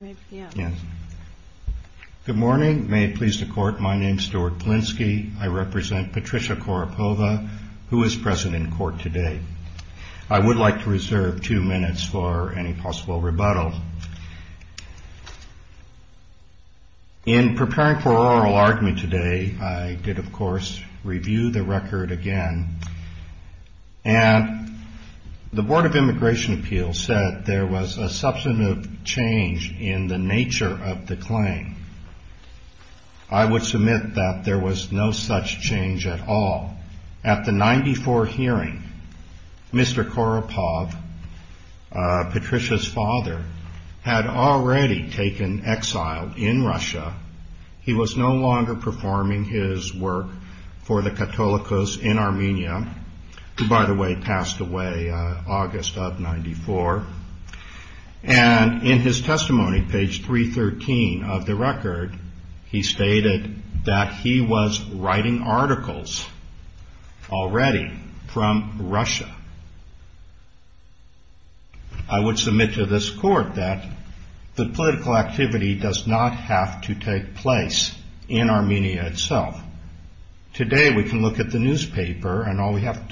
Good morning. May it please the Court, my name is Stuart Polinsky. I represent Patricia Kouropova, who is present in court today. I would like to reserve two minutes for any possible rebuttal. In preparing for oral argument today, I did, of course, review the record again, and the Board of Immigration Appeals said there was a substantive change in the nature of the claim. I would submit that there was no such change at all. At the 1994 hearing, Mr. Kouropova, Patricia's father, had already taken exile in Russia. He was no longer performing his work for the Katolikos in Armenia, who, by the way, passed away August of 1994. And in his testimony, page 313 of the record, he stated that he was writing articles already from Russia. I would submit to this Court that the political activity does not have to take place in Armenia itself. Today we can look at the newspaper, and all we have in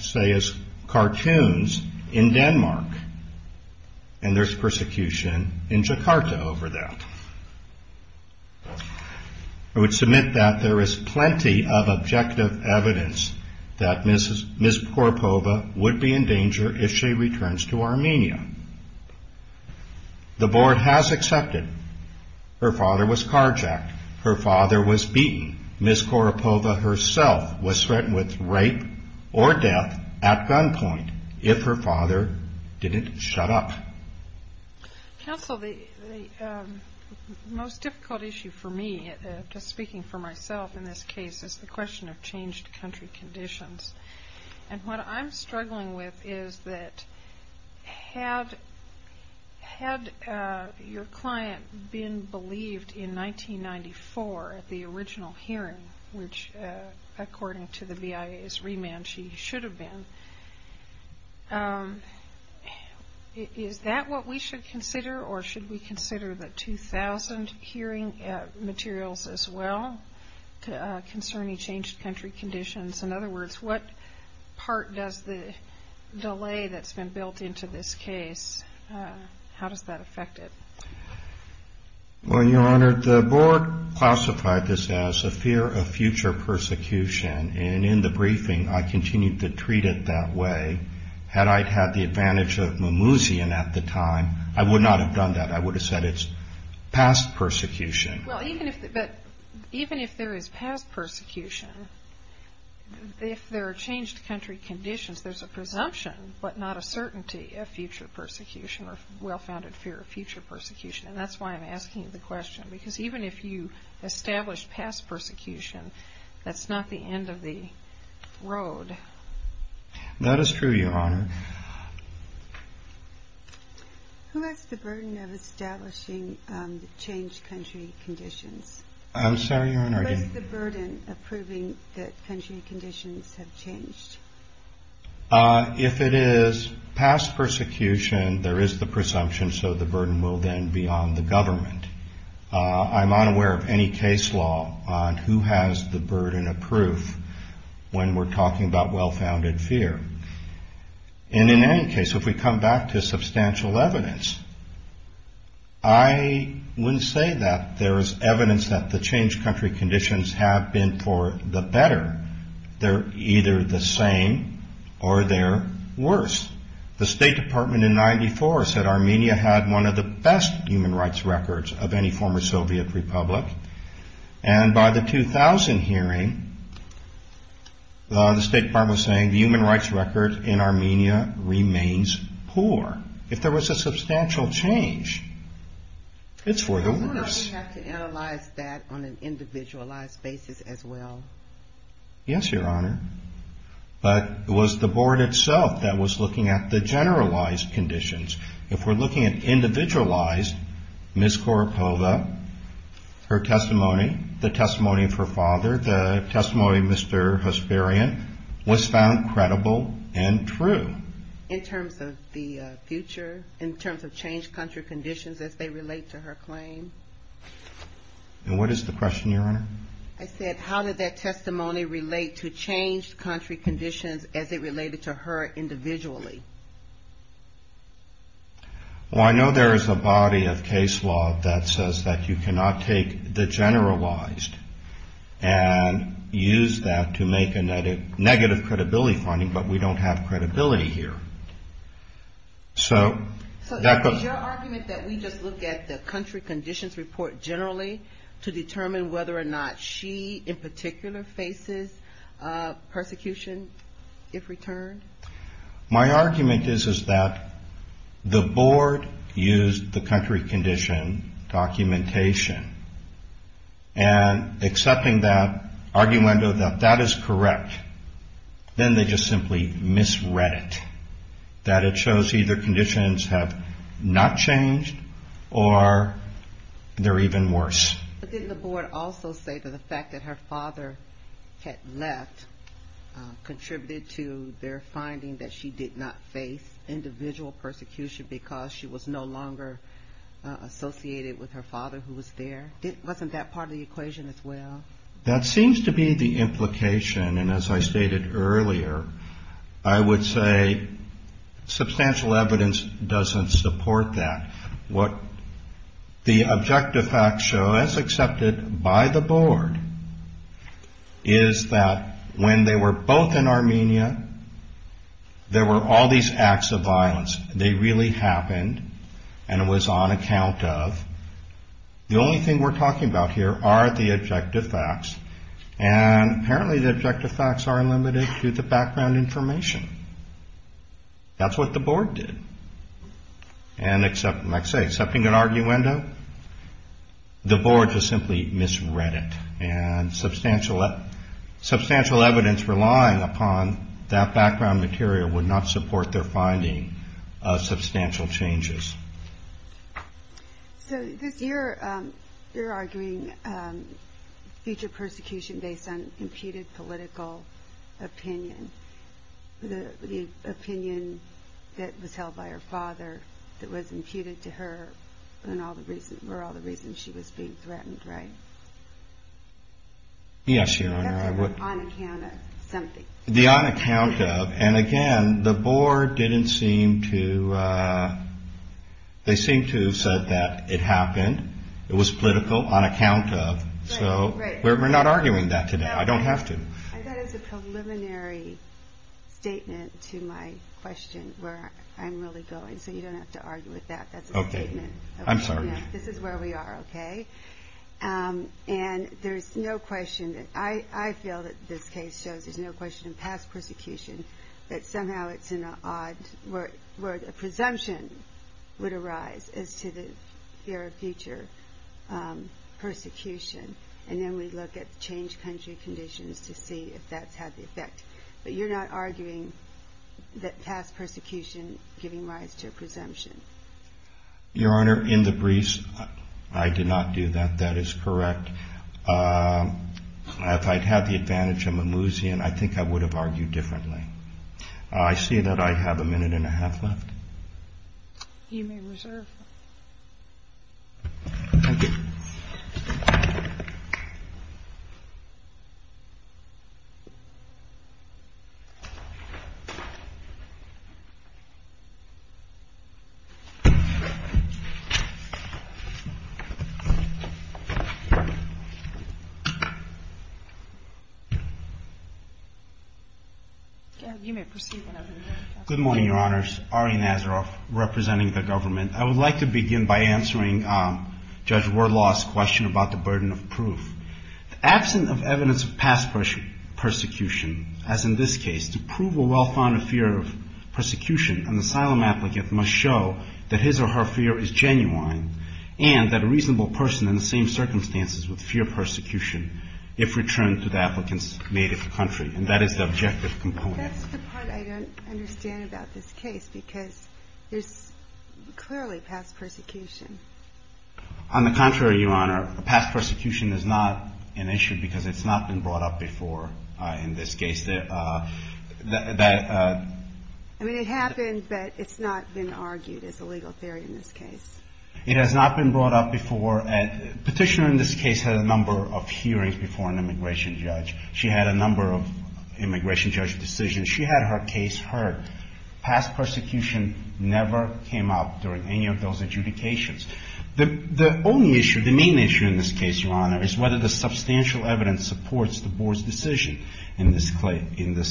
Jakarta over that. I would submit that there is plenty of objective evidence that Ms. Kouropova would be in danger if she returns to Armenia. The Board has accepted her father was carjacked, her father was beaten. Ms. Kouropova herself was threatened with rape or death at gunpoint if her father didn't shut up. Counsel, the most difficult issue for me, just speaking for myself in this case, is the question of changed country conditions. And what I'm struggling with is that had your client been believed in 1994 at the original hearing, which according to the BIA's remand she should have been, is that what we should consider? Or should we consider the 2000 hearing materials as well concerning changed country conditions? In other words, what part does the delay that's been built into this case, how does that affect it? Well, Your Honor, the Board classified this as a fear of future persecution. And in the case of the first case, I would have continued to treat it that way had I had the advantage of Mimoussian at the time. I would not have done that. I would have said it's past persecution. Well, even if there is past persecution, if there are changed country conditions there's a presumption but not a certainty of future persecution or well-founded fear of future persecution. And that's why I'm asking the question. Because even if you establish past persecution, that's not the end of the road. That is true, Your Honor. Who has the burden of establishing changed country conditions? I'm sorry, Your Honor. Who has the burden of proving that country conditions have changed? If it is past persecution, there is the presumption so the burden will then be on the government. I'm unaware of any case law on who has the burden of proof when we're talking about well-founded fear. And in any case, if we come back to substantial evidence, I wouldn't say that there is evidence that the changed country conditions have been for the better. They're either the same or they're worse. The State Department in 1994 said Armenia had one of the best human rights records of any former Soviet Republic. And by the 2000 hearing, the State Department was saying the human rights record in Armenia remains poor. If there was a substantial change, it's for the worse. Doesn't that mean we have to analyze that on an individualized basis as well? Yes, Your Honor. But it was the Board itself that was looking at the generalized conditions. If we're looking at individualized, Ms. Koropova, her testimony, the testimony of her father, the testimony of Mr. Hesperian was found credible and true. In terms of the future, in terms of changed country conditions as they relate to her claim? And what is the question, Your Honor? I said, how did that testimony relate to changed country conditions as it related to her individually? Well, I know there is a body of case law that says that you cannot take the generalized and use that to make a negative credibility finding, but we don't have credibility here. So, is your argument that we just look at the country conditions report generally to see whether or not she in particular faces persecution if returned? My argument is that the Board used the country condition documentation, and accepting that argument that that is correct, then they just simply misread it. That it shows either conditions have not changed or they're even worse. But didn't the Board also say that the fact that her father had left contributed to their finding that she did not face individual persecution because she was no longer associated with her father who was there? Wasn't that part of the equation as well? That seems to be the implication, and as I stated earlier, I would say substantial evidence doesn't support that. What the objective facts show, as accepted by the Board, is that when they were both in Armenia, there were all these acts of violence. They really happened, and it was on account of. The only thing we're talking about here are the objective facts, and apparently the objective facts are limited to the background information. That's what the Board did, and like I say, accepting an arguendo, the Board just simply misread it, and substantial evidence relying upon that background material would not support their finding of substantial changes. So you're arguing future persecution based on impeded political opinion, the opinion that was held by her father, that was imputed to her, were all the reasons she was being threatened, right? Yes, Your Honor. On account of something. The on account of, and again, the Board didn't seem to, they seem to have said that it happened, it was political on account of, so we're not arguing that today. I don't have to. I thought it was a preliminary statement to my question, where I'm really going, so you don't have to argue with that. That's a statement. Okay. I'm sorry. This is where we are, okay? And there's no question, I feel that this case shows there's no question of past persecution, but somehow it's in an odd, where a presumption would arise as to the fear of future persecution, and then we look at the changed country conditions to see if that's had the effect. But you're not arguing that past persecution giving rise to a presumption? Your Honor, in the briefs, I did not do that. That is correct. If I'd had the advantage of Mimouzian, I think I would have argued differently. I see that I have a minute and a half left. You may reserve. Thank you. Good morning, Your Honors. Ari Nazaroff, representing the government. I would like to begin by answering Judge Wardlaw's question about the burden of proof. Absent of evidence of past persecution, as in this case, to prove a well-founded fear of persecution, an asylum applicant must show that his or her fear is genuine, and that a reasonable person in the same circumstances would fear persecution if returned to the applicant's native country, and that is the objective component. That's the part I don't understand about this case, because there's clearly past persecution. On the contrary, Your Honor, past persecution is not an issue because it's not been brought up before in this case. I mean, it happened, but it's not been argued as a legal theory in this case. It has not been brought up before. A petitioner in this case had a number of hearings before an immigration judge. She had a number of immigration judge decisions. She had her case heard. Past persecution never came up during any of those adjudications. The main issue in this case, Your Honor, is whether the substantial evidence supports the Board's decision in this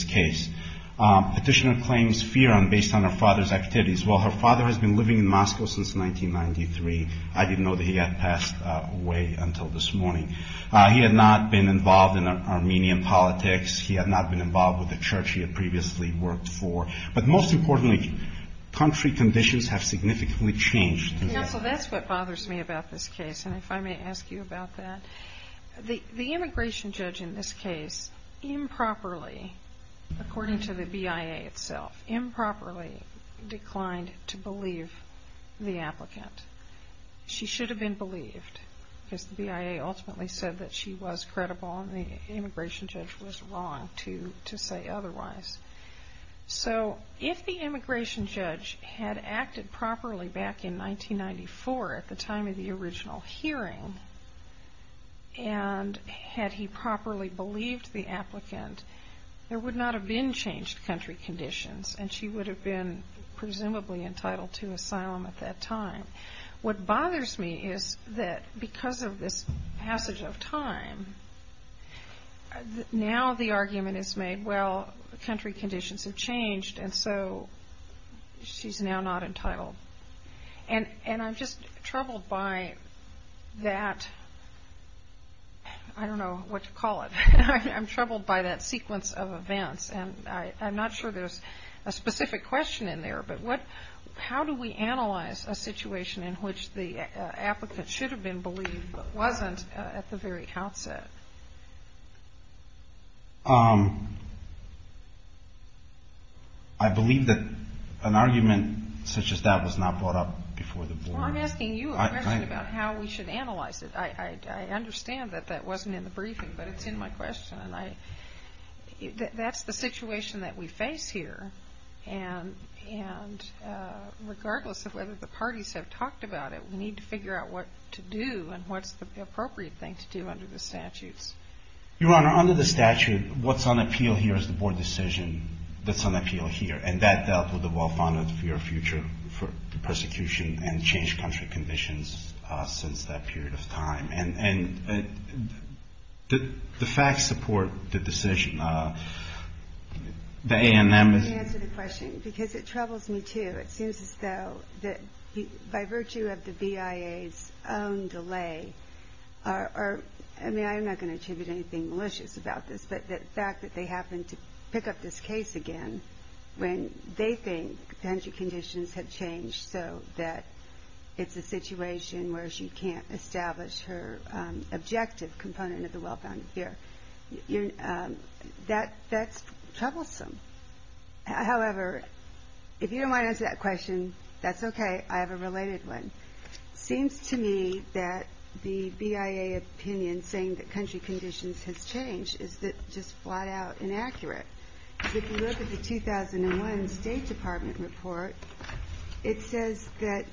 case. Petitioner claims fear based on her father's activities. Well, her father has been living in Moscow since 1993. I didn't know that he had passed away until this morning. He had not been involved in Armenian politics. He had not been involved with the church he had previously worked for. But most importantly, country conditions have significantly changed. Counsel, that's what bothers me about this case, and if I may ask you about that. The immigration judge in this case improperly, according to the BIA itself, improperly declined to believe the applicant. She should have been believed, because the BIA ultimately said that she was credible and the immigration judge was wrong to say otherwise. So, if the immigration judge had acted properly back in 1994, at the time of the original hearing, and had he properly believed the applicant, there would not have been changed country conditions, and she would have been presumably entitled to asylum at that time. What bothers me is that because of this passage of time, now the argument is made, well, country conditions have changed, and so she's now not entitled. And I'm just troubled by that, I don't know what to call it. I'm troubled by that sequence of events, and I'm not sure there's a specific question in there, but how do we analyze a situation in which the applicant should have been believed, but wasn't at the very outset? I believe that an argument such as that was not brought up before the board. Well, I'm asking you a question about how we should analyze it. I understand that that wasn't in the briefing, but it's in my question. That's the situation that we face here, and regardless of whether the parties have talked about it, we need to figure out what to do and what's the appropriate thing to do under the statutes. Your Honor, under the statute, what's on appeal here is the board decision that's on appeal here, and that dealt with the well-founded fear of future persecution and changed country conditions since that period of time, and did the facts support the decision? Let me answer the question, because it troubles me, too. It seems as though that by virtue of the BIA's own delay, I mean, I'm not going to attribute anything malicious about this, but the fact that they happened to pick up this case again when they think country conditions have changed so that it's a situation where she can't establish her objective component of the well-founded fear, that's troublesome. However, if you don't mind answering that question, that's okay. I have a related one. It seems to me that the BIA opinion saying that country conditions have changed is just flat-out inaccurate. If you look at the 2001 State Department report, it says that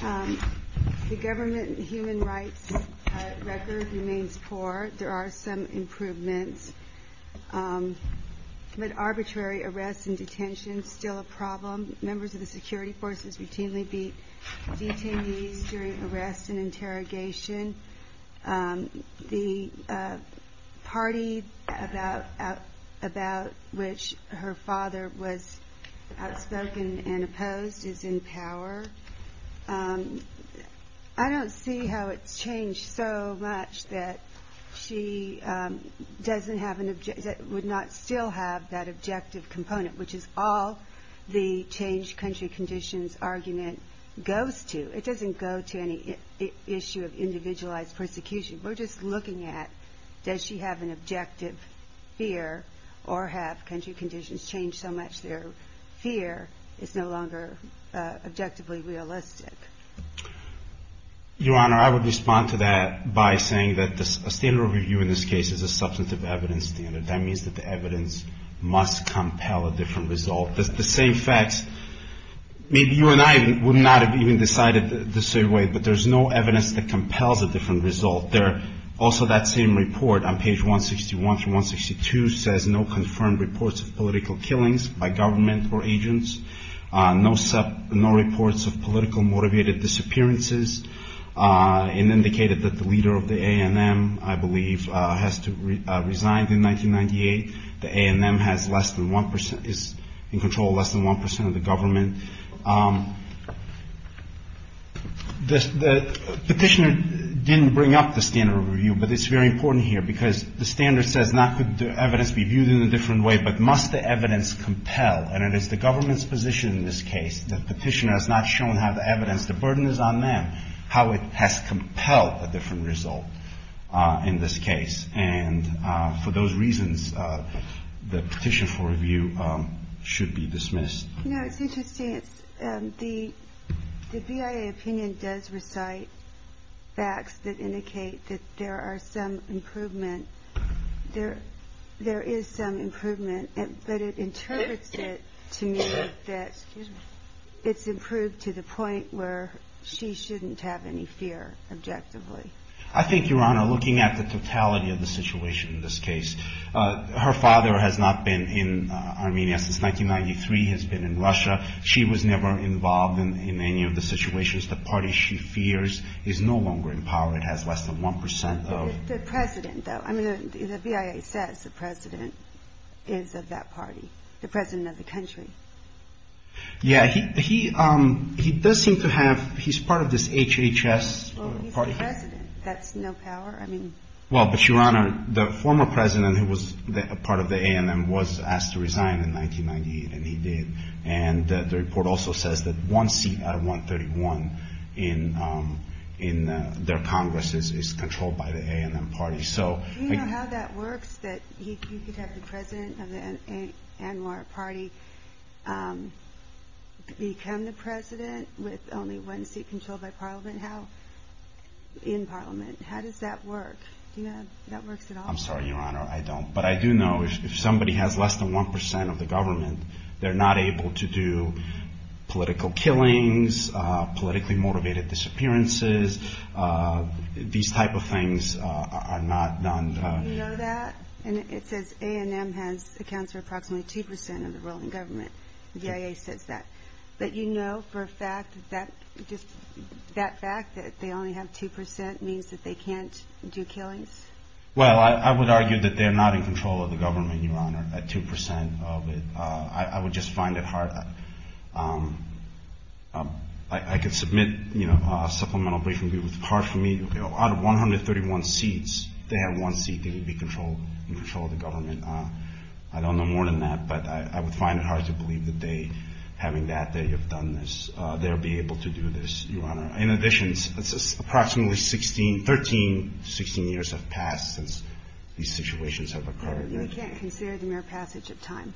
the government human rights record remains poor. There are some improvements. But arbitrary arrests and detentions are still a problem. Members of the security forces routinely beat detainees during arrests and interrogation. The party about which her father was outspoken and opposed is in power. I don't see how it's changed so much that she doesn't have an objective, would not still have that objective component, which is all the change country conditions argument goes to. It doesn't go to any issue of individualized persecution. We're just looking at does she have an objective fear or have country conditions changed so much their fear is no longer objectively realistic. Your Honor, I would respond to that by saying that a standard of review in this case is a substantive evidence standard. That means that the evidence must compel a different result. The same facts, maybe you and I would not have even decided the same way, but there's no evidence that compels a different result. Also that same report on page 161 through 162 says no confirmed reports of political killings by government or agents, no reports of political motivated disappearances, and indicated that the leader of the A&M, I believe, has to resign in 1998. The A&M is in control of less than 1% of the government. The petitioner didn't bring up the standard of review, but it's very important here because the standard says not could the evidence be viewed in a different way, but must the evidence compel, and it is the government's position in this case, the petitioner has not shown how the evidence, the burden is on them, how it has compelled a different result in this case. And for those reasons, the petition for review should be dismissed. No, it's interesting. The BIA opinion does recite facts that indicate that there are some improvement. There is some improvement, but it interprets it to mean that it's improved to the point where she shouldn't have any fear objectively. I think, Your Honor, looking at the totality of the situation in this case, her father has not been in Armenia since 1993. He has been in Russia. She was never involved in any of the situations. The party she fears is no longer in power. It has less than 1% of... The president, though. I mean, the BIA says the president is of that party, the president of the country. Yeah, he does seem to have, he's part of this HHS party. He's the president. That's no power? I mean... Well, but, Your Honor, the former president who was a part of the ANM was asked to resign in 1998, and he did. And the report also says that one seat out of 131 in their Congress is controlled by the ANM party. Do you know how that works, that you could have the president of the ANM party become the president with only one seat controlled by parliament? How, in parliament, how does that work? Do you know how that works at all? I'm sorry, Your Honor, I don't. But I do know if somebody has less than 1% of the government, they're not able to do political killings, politically motivated disappearances. These type of things are not done... You know that? And it says ANM has accounts for approximately 2% of the ruling government. The BIA says that. But you know for a fact that just that fact that they only have 2% means that they can't do killings? Well, I would argue that they're not in control of the government, Your Honor, at 2% of it. I would just find it hard. I could submit a supplemental briefing, but it would be hard for me. Out of 131 seats, they have one seat that would be in control of the government. I don't know more than that, but I would find it hard to believe that they, having that, that you've done this, they'll be able to do this, Your Honor. In addition, it's approximately 13, 16 years have passed since these situations have occurred. We can't consider the mere passage of time.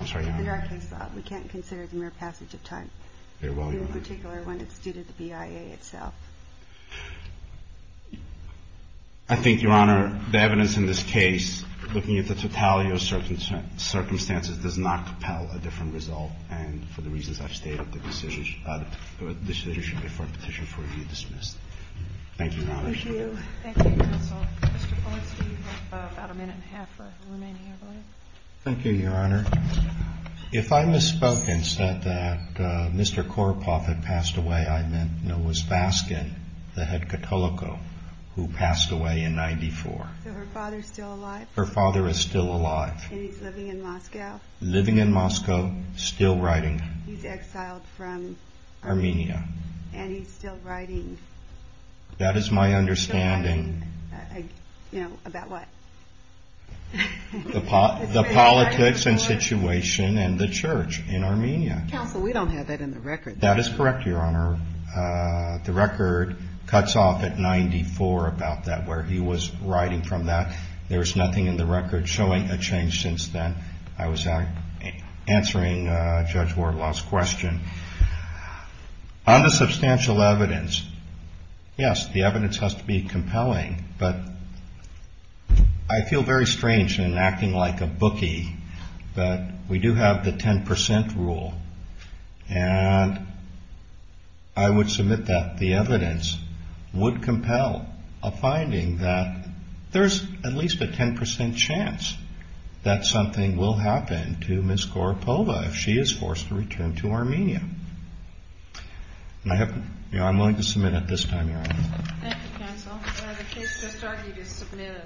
I'm sorry, Your Honor. In our case, we can't consider the mere passage of time. Very well, Your Honor. In particular, when it's due to the BIA itself. I think, Your Honor, the evidence in this case, looking at the totality of circumstances, does not compel a different result, and for the reasons I've stated, the decision should be for a petition for review dismissed. Thank you, Your Honor. Thank you. Thank you, counsel. Mr. Fuller, do you have about a minute and a half for remaining, Your Honor? Thank you, Your Honor. If I misspoke and said that Mr. Koropoff had passed away, I meant Noah's Baskin, the head katoliko, who passed away in 94. So her father's still alive? Her father is still alive. And he's living in Moscow? Living in Moscow, still writing. He's exiled from? Armenia. And he's still writing? That is my understanding. Still writing, you know, about what? The politics and situation and the church in Armenia. Counsel, we don't have that in the record. That is correct, Your Honor. The record cuts off at 94 about that, where he was writing from that. There is nothing in the record showing a change since then. I was answering Judge Wardlaw's question. On the substantial evidence, yes, the evidence has to be compelling, but I feel very strange in acting like a bookie that we do have the 10% rule. And I would submit that the evidence would compel a finding that there's at least a 10% chance that something will happen to Ms. Koropoff if she is forced to return to Armenia. I'm willing to submit it this time, Your Honor. Thank you, Counsel. The case just argued is submitted.